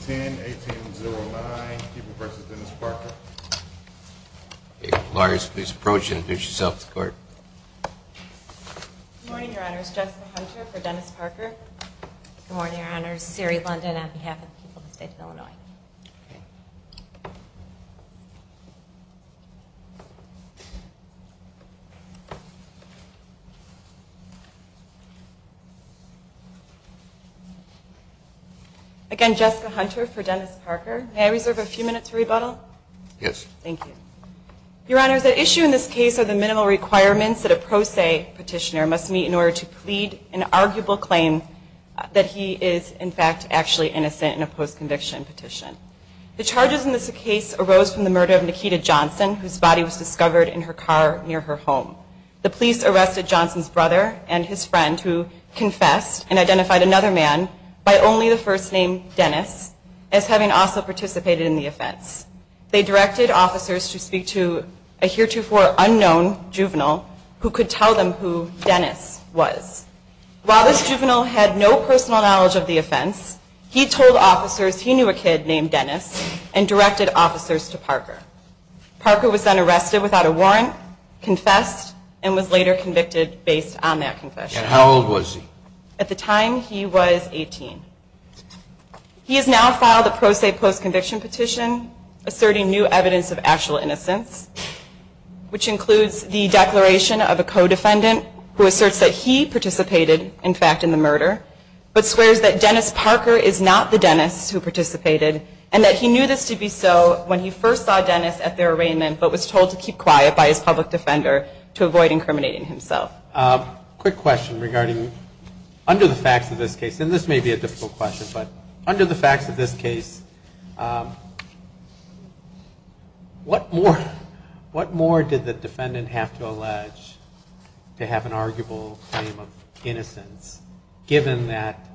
10-18-09 People v. Dennis Parker Lawyers, please approach and introduce yourself to the court. Good morning, Your Honor. It's Jessica Hunter for Dennis Parker. Good morning, Your Honor. It's Siri London on behalf of the people of the state of Illinois. Again, Jessica Hunter for Dennis Parker. May I reserve a few minutes for rebuttal? Yes. Thank you. Your Honor, the issue in this case are the minimal requirements that a pro se petitioner must meet in order to plead an arguable claim that he is, in fact, actually innocent in a post-conviction petition. The charges in this case arose from the murder of Nikita Johnson, whose body was discovered in her car near her home. The police arrested Johnson's brother and his friend, who confessed and identified another man by only the first name Dennis, as having also participated in the offense. They directed officers to speak to a heretofore unknown juvenile who could tell them who Dennis was. While this juvenile had no personal knowledge of the offense, he told officers he knew a kid named Dennis and directed officers to Parker. Parker was then arrested without a warrant, confessed, and was later convicted based on that confession. And how old was he? At the time, he was 18. He has now filed a pro se post-conviction petition asserting new evidence of actual innocence, which includes the declaration of a co-defendant who asserts that he participated, in fact, in the murder, but swears that Dennis Parker is not the Dennis who participated, and that he knew this to be so when he first saw Dennis at their arraignment, but was told to keep quiet by his public defender to avoid incriminating himself. Quick question regarding, under the facts of this case, and this may be a difficult question, but under the facts of this case, what more did the defendant have to allege to have an arguable claim of innocence, given that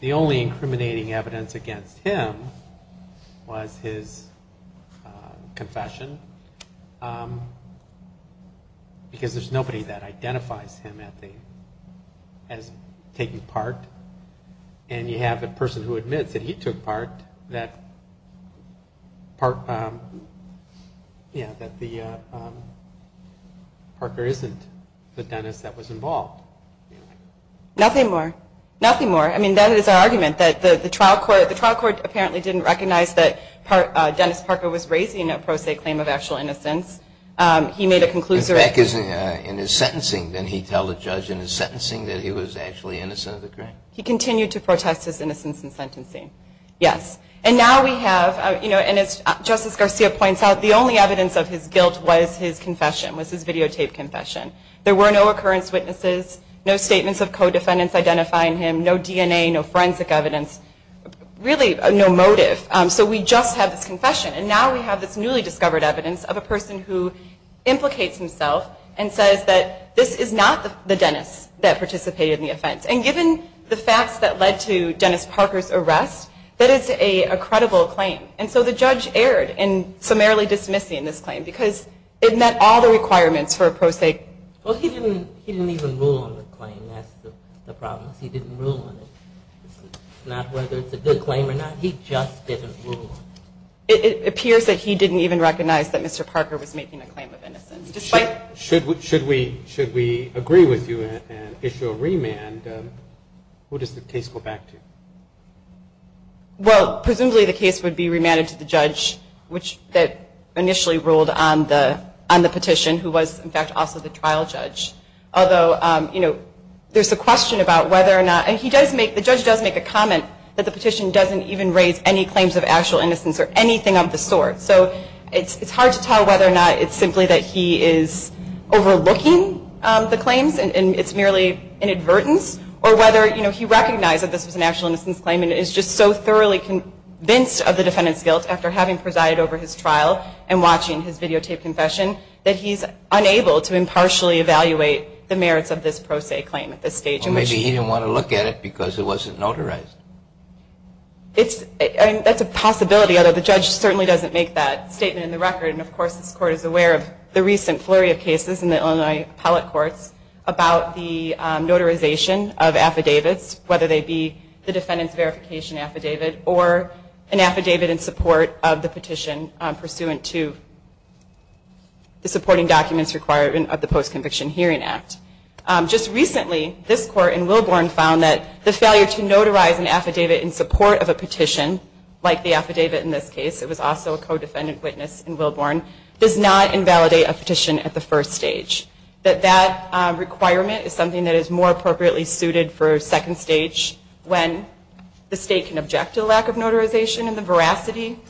the only incriminating evidence against him was his confession? Because there's nobody that identifies him as taking part, and you have a person who admits that he took part, that the Parker isn't the Dennis that was involved. Nothing more. Nothing more. I mean, that is our argument, that the trial court apparently didn't recognize that Dennis Parker was raising a pro se claim of actual innocence. He made a conclusion. In his sentencing, did he tell the judge in his sentencing that he was actually innocent of the crime? He continued to protest his innocence in sentencing. Yes. And now we have, and as Justice Garcia points out, the only evidence of his guilt was his confession, was his videotaped confession. There were no occurrence witnesses, no statements of co-defendants identifying him, no DNA, no forensic evidence, really no motive. So we just have this confession. And now we have this newly discovered evidence of a person who implicates himself and says that this is not the Dennis that participated in the offense. And given the facts that led to Dennis Parker's arrest, that is a credible claim. And so the judge erred in summarily dismissing this claim because it met all the requirements for a pro se. Well, he didn't even rule on the claim. That's the problem. He didn't rule on it. It's not whether it's a good claim or not. He just didn't rule on it. It appears that he didn't even recognize that Mr. Parker was making a claim of innocence. Should we agree with you and issue a remand? Who does the case go back to? Well, presumably the case would be remanded to the judge that initially ruled on the petition, who was, in fact, also the trial judge. Although, you know, there's a question about whether or not, and the judge does make a comment that the petition doesn't even raise any claims of actual innocence or anything of the sort. So it's hard to tell whether or not it's simply that he is overlooking the claims and it's merely an advertence, or whether, you know, he recognized that this was an actual innocence claim and is just so thoroughly convinced of the defendant's guilt after having presided over his trial and watching his videotaped confession that he's unable to impartially evaluate the merits of this pro se claim at this stage. So maybe he didn't want to look at it because it wasn't notarized. That's a possibility, although the judge certainly doesn't make that statement in the record. And, of course, this Court is aware of the recent flurry of cases in the Illinois appellate courts about the notarization of affidavits, whether they be the defendant's verification affidavit or an affidavit in support of the petition pursuant to the supporting documents required of the Post-Conviction Hearing Act. Just recently, this Court in Wilborn found that the failure to notarize an affidavit in support of a petition, like the affidavit in this case, it was also a co-defendant witness in Wilborn, does not invalidate a petition at the first stage. That that requirement is something that is more appropriately suited for second stage when the state can object to a lack of notarization and the veracity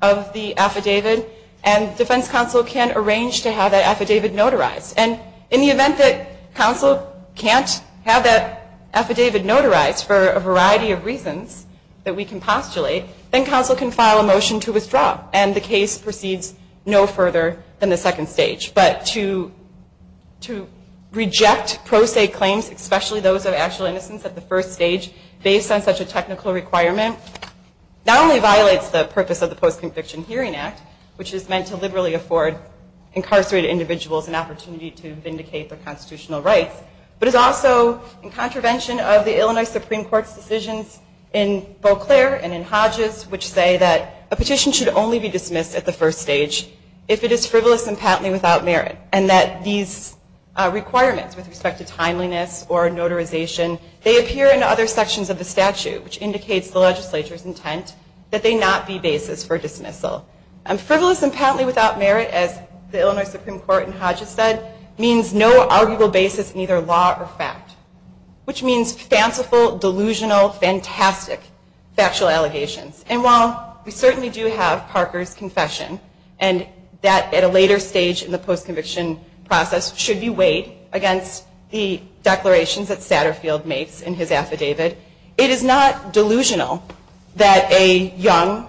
of the affidavit and defense counsel can arrange to have that affidavit notarized. And in the event that counsel can't have that affidavit notarized for a variety of reasons that we can postulate, then counsel can file a motion to withdraw and the case proceeds no further than the second stage. But to reject pro se claims, especially those of actual innocence at the first stage, based on such a technical requirement, not only violates the purpose of the Post-Conviction Hearing Act, which is meant to liberally afford incarcerated individuals an opportunity to vindicate their constitutional rights, but is also in contravention of the Illinois Supreme Court's decisions in Beauclair and in Hodges which say that a petition should only be dismissed at the first stage if it is frivolous and patently without merit and that these requirements with respect to timeliness or notarization, they appear in other sections of the statute which indicates the legislature's intent that they not be basis for dismissal. Frivolous and patently without merit, as the Illinois Supreme Court in Hodges said, means no arguable basis in either law or fact, which means fanciful, delusional, fantastic factual allegations. And while we certainly do have Parker's confession and that at a later stage in the post-conviction process should be weighed against the declarations that Satterfield makes in his affidavit, it is not delusional that a young,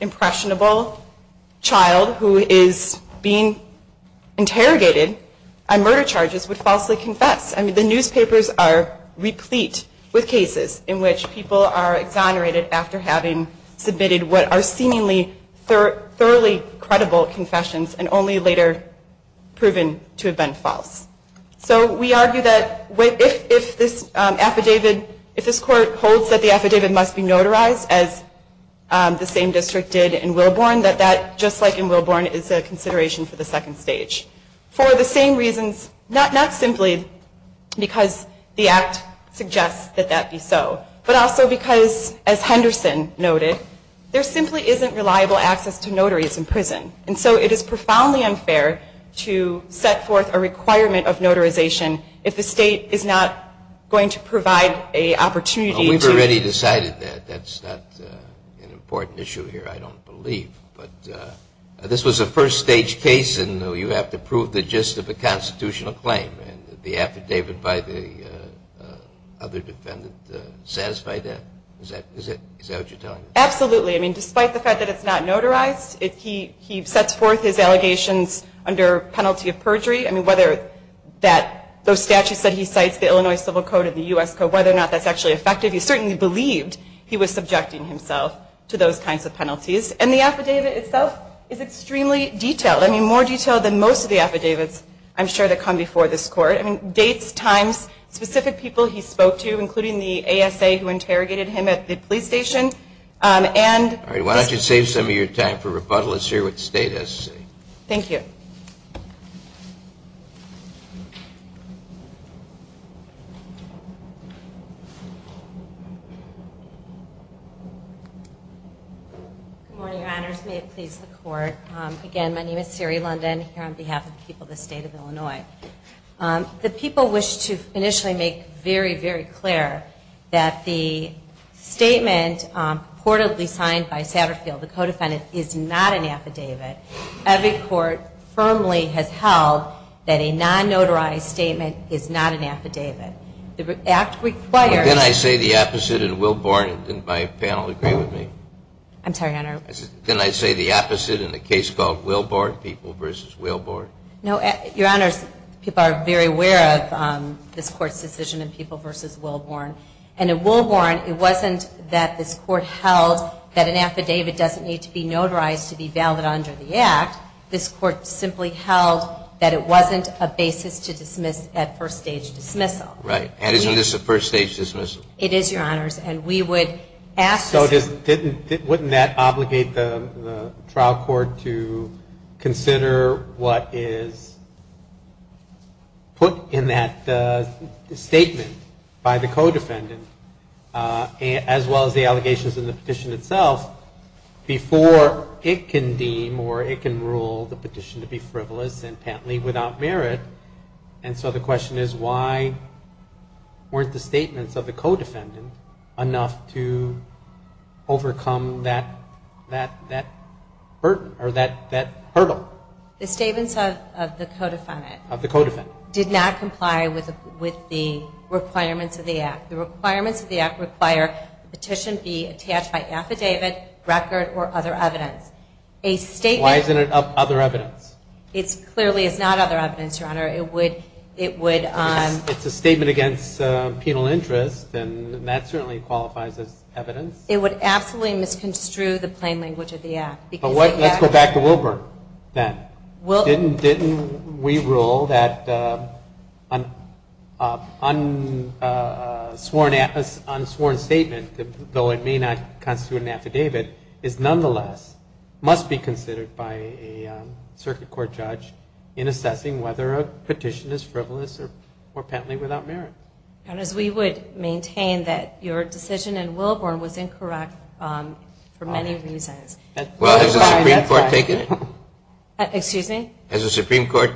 impressionable child who is being interrogated on murder charges would falsely confess. I mean, the newspapers are replete with cases in which people are exonerated after having submitted what are seemingly thoroughly credible confessions and only later proven to have been false. So we argue that if this affidavit, if this court holds that the affidavit must be notarized as the same district did in Willborn, that that, just like in Willborn, is a consideration for the second stage. For the same reasons, not simply because the act suggests that that be so, but also because, as Henderson noted, and so it is profoundly unfair to set forth a requirement of notarization if the state is not going to provide an opportunity to... Well, we've already decided that. That's not an important issue here, I don't believe. But this was a first stage case, and you have to prove the gist of a constitutional claim. And the affidavit by the other defendant satisfied that? Is that what you're telling me? Absolutely. I mean, despite the fact that it's not notarized, he sets forth his allegations under penalty of perjury. I mean, whether those statutes that he cites, the Illinois Civil Code and the U.S. Code, whether or not that's actually effective, he certainly believed he was subjecting himself to those kinds of penalties. And the affidavit itself is extremely detailed. I mean, more detailed than most of the affidavits, I'm sure, that come before this court. I mean, dates, times, specific people he spoke to, including the ASA who interrogated him at the police station, Why don't you save some of your time for rebuttal? Let's hear what the State has to say. Thank you. Good morning, Your Honors. May it please the Court. Again, my name is Siri London, here on behalf of the people of the State of Illinois. The people wish to initially make very, very clear that the statement purportedly signed by Satterfield, the co-defendant, is not an affidavit. Every court firmly has held that a non-notarized statement is not an affidavit. The act requires Well, didn't I say the opposite in Wilborn? Didn't my panel agree with me? I'm sorry, Your Honor. Didn't I say the opposite in the case called Wilborn, people versus Wilborn? No, Your Honors. People are very aware of this Court's decision in people versus Wilborn. And in Wilborn, it wasn't that this Court held that an affidavit doesn't need to be notarized to be valid under the act. This Court simply held that it wasn't a basis to dismiss at first-stage dismissal. Right. And isn't this a first-stage dismissal? It is, Your Honors. And we would ask So wouldn't that obligate the trial court to consider what is put in that statement by the co-defendant as well as the allegations in the petition itself before it can deem or it can rule the petition to be frivolous and patently without merit? And so the question is why weren't the statements of the co-defendant enough to overcome that hurdle? The statements of the co-defendant did not comply with the requirements of the act. The requirements of the act require the petition be attached by affidavit, record, or other evidence. Why isn't it other evidence? It clearly is not other evidence, Your Honor. It would It's a statement against penal interest, and that certainly qualifies as evidence. It would absolutely misconstrue the plain language of the act. Let's go back to Wilburn then. Didn't we rule that an unsworn statement, though it may not constitute an affidavit, is nonetheless must be considered by a circuit court judge in assessing whether a petition is frivolous or patently without merit? We would maintain that your decision in Wilburn was incorrect for many reasons. Well, has the Supreme Court taken it? Excuse me? Has the Supreme Court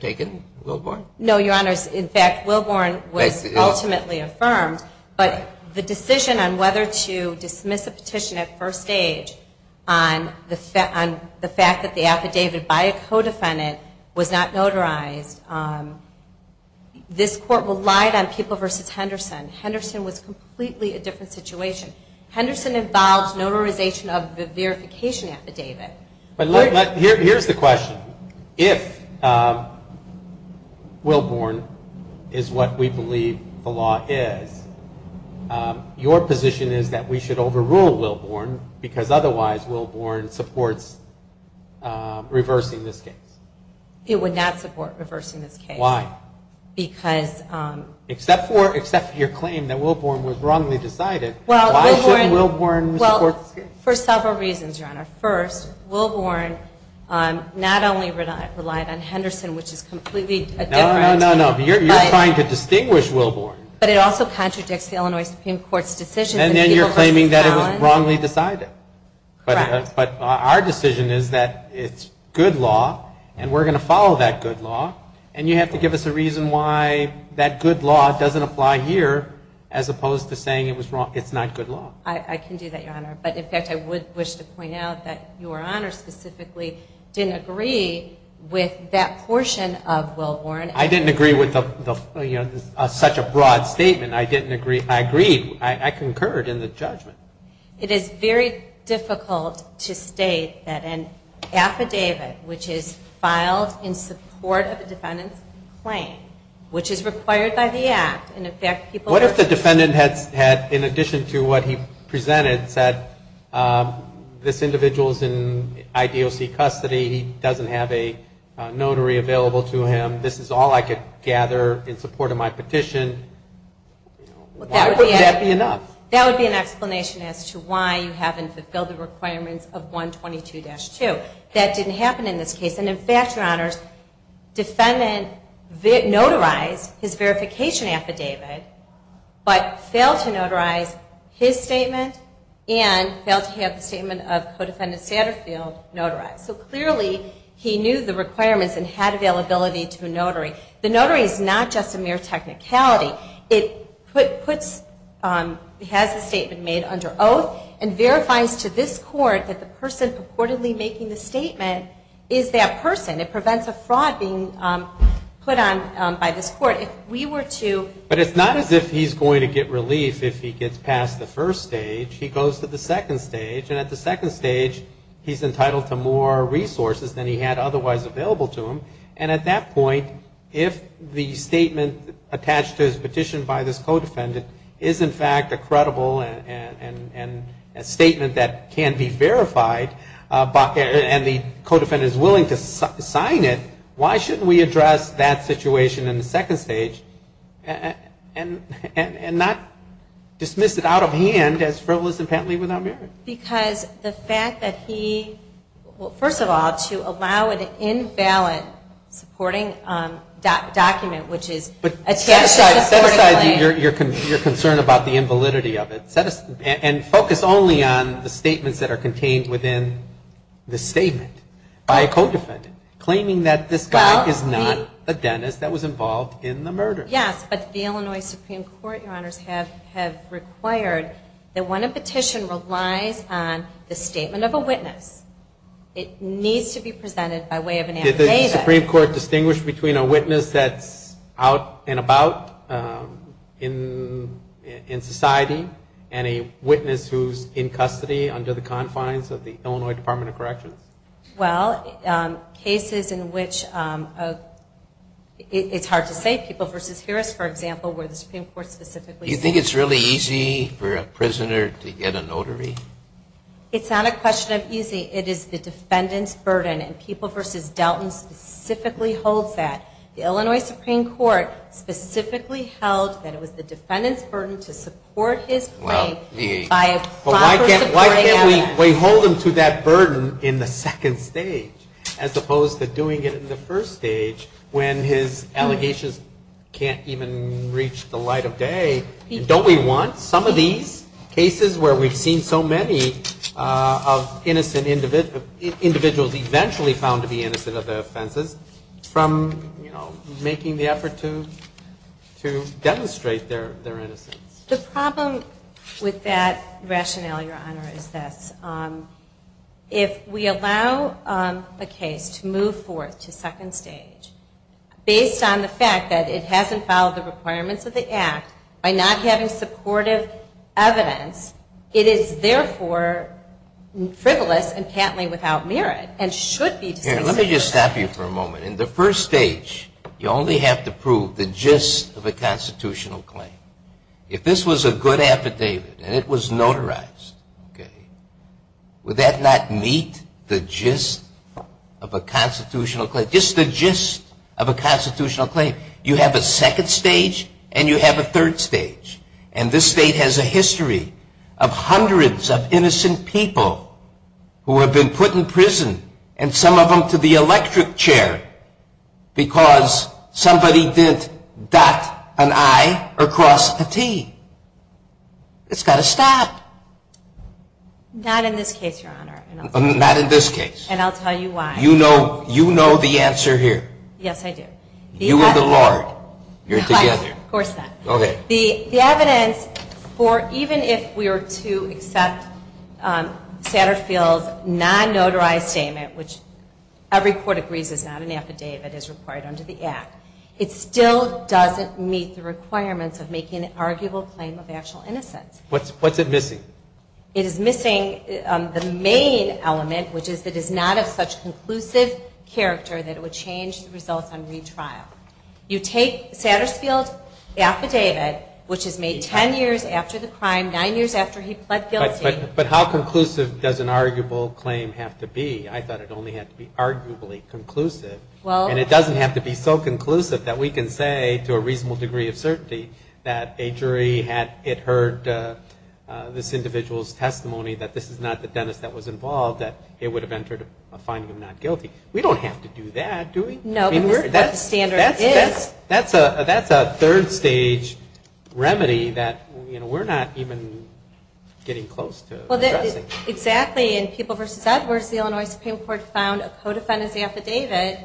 taken Wilburn? No, Your Honors. In fact, Wilburn was ultimately affirmed. But the decision on whether to dismiss a petition at first stage on the fact that the affidavit by a co-defendant was not notarized, this Court relied on People v. Henderson. Henderson was completely a different situation. Henderson involved notarization of the verification affidavit. Here's the question. If Wilburn is what we believe the law is, your position is that we should overrule Wilburn because otherwise Wilburn supports reversing this case? It would not support reversing this case. Why? Because... Except for your claim that Wilburn was wrongly decided, why shouldn't Wilburn support this case? For several reasons, Your Honor. First, Wilburn not only relied on Henderson, which is completely a different... No, no, no, no. You're trying to distinguish Wilburn. But it also contradicts the Illinois Supreme Court's decision... And then you're claiming that it was wrongly decided. Correct. But our decision is that it's good law, and we're going to follow that good law, and you have to give us a reason why that good law doesn't apply here as opposed to saying it's not good law. I can do that, Your Honor. But, in fact, I would wish to point out that Your Honor specifically didn't agree with that portion of Wilburn. I didn't agree with such a broad statement. I didn't agree. I agreed. I concurred in the judgment. It is very difficult to state that an affidavit, which is filed in support of the defendant's claim, which is required by the Act, and, in fact, people... The defendant had, in addition to what he presented, said, this individual is in IDOC custody. He doesn't have a notary available to him. This is all I could gather in support of my petition. Why wouldn't that be enough? That would be an explanation as to why you haven't fulfilled the requirements of 122-2. That didn't happen in this case. And, in fact, Your Honor, the defendant notarized his verification affidavit but failed to notarize his statement and failed to have the statement of co-defendant Satterfield notarized. So clearly he knew the requirements and had availability to a notary. The notary is not just a mere technicality. It has the statement made under oath and verifies to this court that the person purportedly making the statement is that person. It prevents a fraud being put on by this court. If we were to... But it's not as if he's going to get relief if he gets past the first stage. He goes to the second stage, and at the second stage, he's entitled to more resources than he had otherwise available to him. And at that point, if the statement attached to his petition by this co-defendant is, in fact, a credible statement that can be verified and the co-defendant is willing to sign it, why shouldn't we address that situation in the second stage and not dismiss it out of hand as frivolous and patently without merit? Because the fact that he... Well, first of all, to allow an invalid supporting document, which is attached to this court... But set aside your concern about the invalidity of it and focus only on the statements that are contained within the statement by a co-defendant claiming that this guy is not a dentist that was involved in the murder. Yes, but the Illinois Supreme Court, Your Honors, have required that when a petition relies on the statement of a witness, it needs to be presented by way of an affidavit. Did the Supreme Court distinguish between a witness that's out and about in society and a witness who's in custody under the confines of the Illinois Department of Corrections? Well, cases in which it's hard to say. People v. Harris, for example, where the Supreme Court specifically... Do you think it's really easy for a prisoner to get a notary? It's not a question of easy. It is the defendant's burden, and People v. Delton specifically holds that. The Illinois Supreme Court specifically held that it was the defendant's burden to support his claim by a proper supporting evidence. Well, why can't we hold him to that burden in the second stage as opposed to doing it in the first stage when his allegations can't even reach the light of day? Don't we want some of these cases where we've seen so many of innocent individuals eventually found to be innocent of their offenses from making the effort to demonstrate their innocence? The problem with that rationale, Your Honor, is this. If we allow a case to move forth to second stage based on the fact that it hasn't followed the requirements of the Act by not having supportive evidence, it is therefore frivolous and patently without merit and should be... Let me just stop you for a moment. In the first stage, you only have to prove the gist of a constitutional claim. If this was a good affidavit and it was notarized, would that not meet the gist of a constitutional claim? Just the gist of a constitutional claim. You have a second stage and you have a third stage, and this state has a history of hundreds of innocent people who have been put in prison and some of them to the electric chair because somebody didn't dot an I or cross a T. It's got to stop. Not in this case, Your Honor. Not in this case. And I'll tell you why. You know the answer here. Yes, I do. You and the Lord, you're together. Of course not. Okay. The evidence for even if we were to accept Satterfield's non-notarized statement, which every court agrees is not an affidavit, is required under the Act, it still doesn't meet the requirements of making an arguable claim of actual innocence. What's it missing? It is missing the main element, which is that it is not of such conclusive character that it would change the results on retrial. You take Satterfield's affidavit, which is made ten years after the crime, nine years after he pled guilty. But how conclusive does an arguable claim have to be? I thought it only had to be arguably conclusive. And it doesn't have to be so conclusive that we can say to a reasonable degree of certainty that a jury had heard this individual's testimony, that this is not the dentist that was involved, that it would have entered a finding of not guilty. We don't have to do that, do we? No, but that's what the standard is. That's a third-stage remedy that we're not even getting close to addressing. Exactly. In People v. Edwards, the Illinois Supreme Court found a co-defendant's affidavit,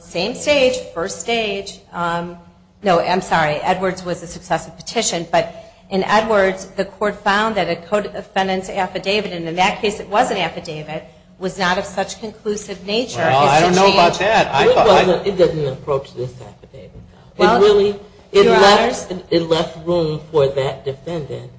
same stage, first stage. No, I'm sorry, Edwards was a successive petition. But in Edwards, the court found that a co-defendant's affidavit, and in that case it was an affidavit, was not of such conclusive nature. Well, I don't know about that. It didn't approach this affidavit. It left room for that defendant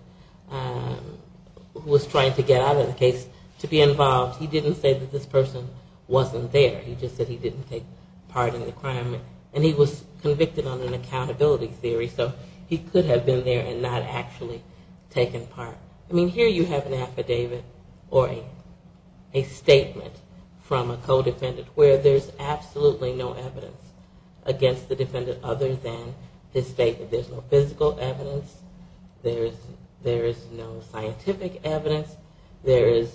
who was trying to get out of the case to be involved. He didn't say that this person wasn't there. He just said he didn't take part in the crime. And he was convicted on an accountability theory, so he could have been there and not actually taken part. I mean, here you have an affidavit or a statement from a co-defendant where there's absolutely no evidence against the defendant other than this statement. There's no physical evidence. There is no scientific evidence. There is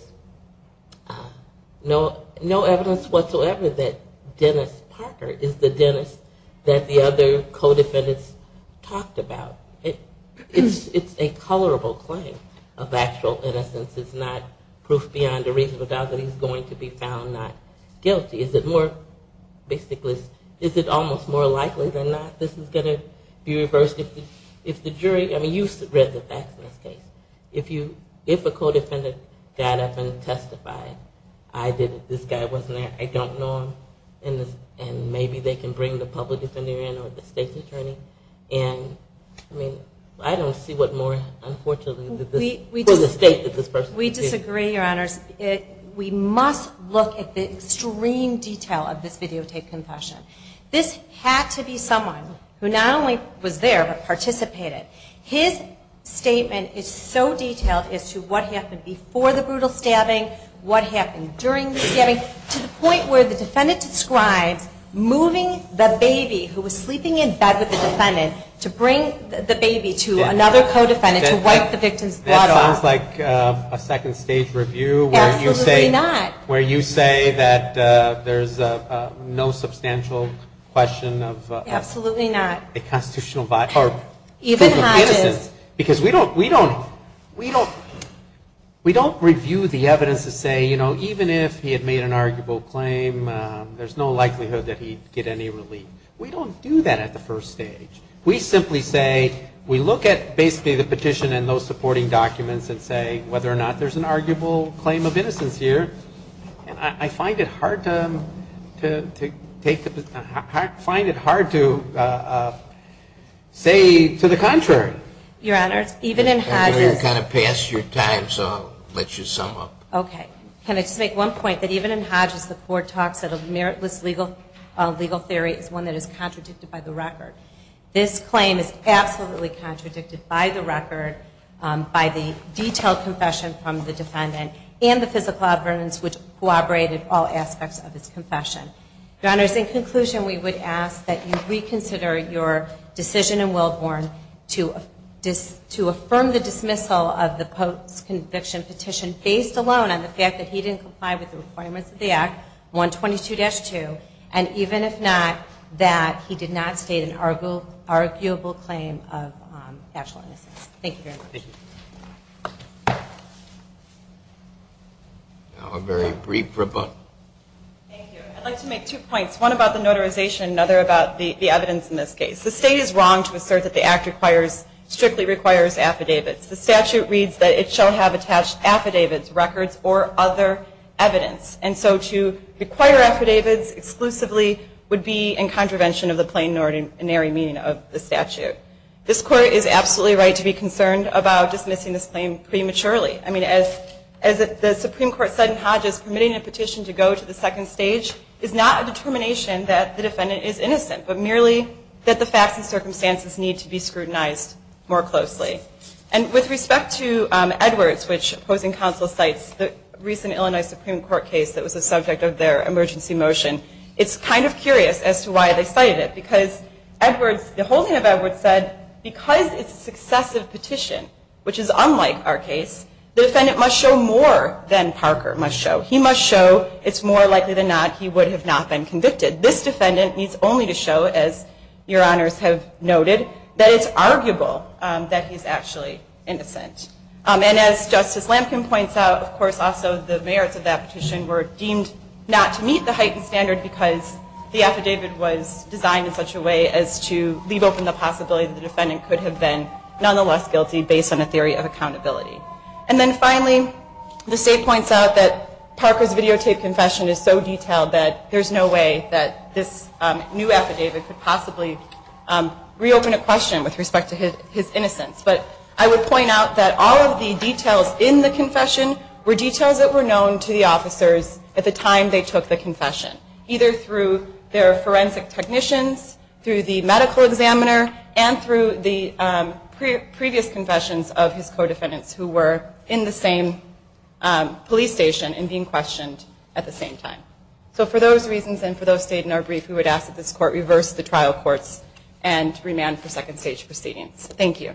no evidence whatsoever that Dennis Parker is the dentist that the other co-defendants talked about. It's a colorable claim of actual innocence. It's not proof beyond a reasonable doubt that he's going to be found not guilty. Is it more, basically, is it almost more likely than not this is going to be reversed if the jury, I mean, you've read the facts in this case. If a co-defendant got up and testified, I did it, this guy wasn't there, I don't know him, and maybe they can bring the public defender in or the state's attorney, and, I mean, I don't see what more, unfortunately, for the state that this person could do. We disagree, Your Honors. We must look at the extreme detail of this videotape confession. This had to be someone who not only was there but participated. His statement is so detailed as to what happened before the brutal stabbing, what happened during the stabbing, to the point where the defendant describes moving the baby, who was sleeping in bed with the defendant, to bring the baby to another co-defendant to wipe the victim's blood off. That sounds like a second-stage review where you say that there's no substantial question of... Absolutely not. ...a constitutional violation or proof of innocence. Even Hodges. Because we don't review the evidence to say, you know, there's no likelihood that he'd get any relief. We don't do that at the first stage. We simply say, we look at basically the petition and those supporting documents and say whether or not there's an arguable claim of innocence here, and I find it hard to say to the contrary. Your Honors, even in Hodges... I know you've kind of passed your time, so I'll let you sum up. Okay. Can I just make one point, that even in Hodges, the court talks that a meritless legal theory is one that is contradicted by the record. This claim is absolutely contradicted by the record, by the detailed confession from the defendant, and the physical evidence which corroborated all aspects of his confession. Your Honors, in conclusion, we would ask that you reconsider your decision in the fact that he didn't comply with the requirements of the Act, 122-2, and even if not, that he did not state an arguable claim of actual innocence. Thank you very much. Thank you. Now a very brief rebuttal. Thank you. I'd like to make two points, one about the notarization, another about the evidence in this case. The State is wrong to assert that the Act strictly requires affidavits. The statute reads that it shall have attached affidavits, records, or other evidence. And so to require affidavits exclusively would be in contravention of the plain and ordinary meaning of the statute. This Court is absolutely right to be concerned about dismissing this claim prematurely. I mean, as the Supreme Court said in Hodges, permitting a petition to go to the second stage is not a determination that the defendant is innocent, but merely that the facts and circumstances need to be scrutinized more closely. And with respect to Edwards, which opposing counsel cites, the recent Illinois Supreme Court case that was the subject of their emergency motion, it's kind of curious as to why they cited it, because Edwards, the holding of Edwards said, because it's a successive petition, which is unlike our case, the defendant must show more than Parker must show. He must show it's more likely than not he would have not been convicted. This defendant needs only to show, as your honors have noted, that it's arguable that he's actually innocent. And as Justice Lamkin points out, of course, also the merits of that petition were deemed not to meet the heightened standard because the affidavit was designed in such a way as to leave open the possibility that the defendant could have been nonetheless guilty based on a theory of accountability. And then finally, the state points out that Parker's videotaped confession is so detailed that there's no way that this new affidavit could possibly reopen a question with respect to his innocence. But I would point out that all of the details in the confession were details that were known to the officers at the time they took the confession, either through their forensic technicians, through the medical examiner, and through the previous confessions of his co-defendants who were in the same police station and being questioned at the same time. So for those reasons and for those stated in our brief, we would ask that this Court reverse the trial courts and remand for second stage proceedings. Thank you.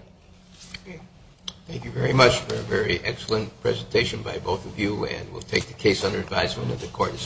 Thank you very much for a very excellent presentation by both of you, and we'll take the case under advisement that the Court is adjourned.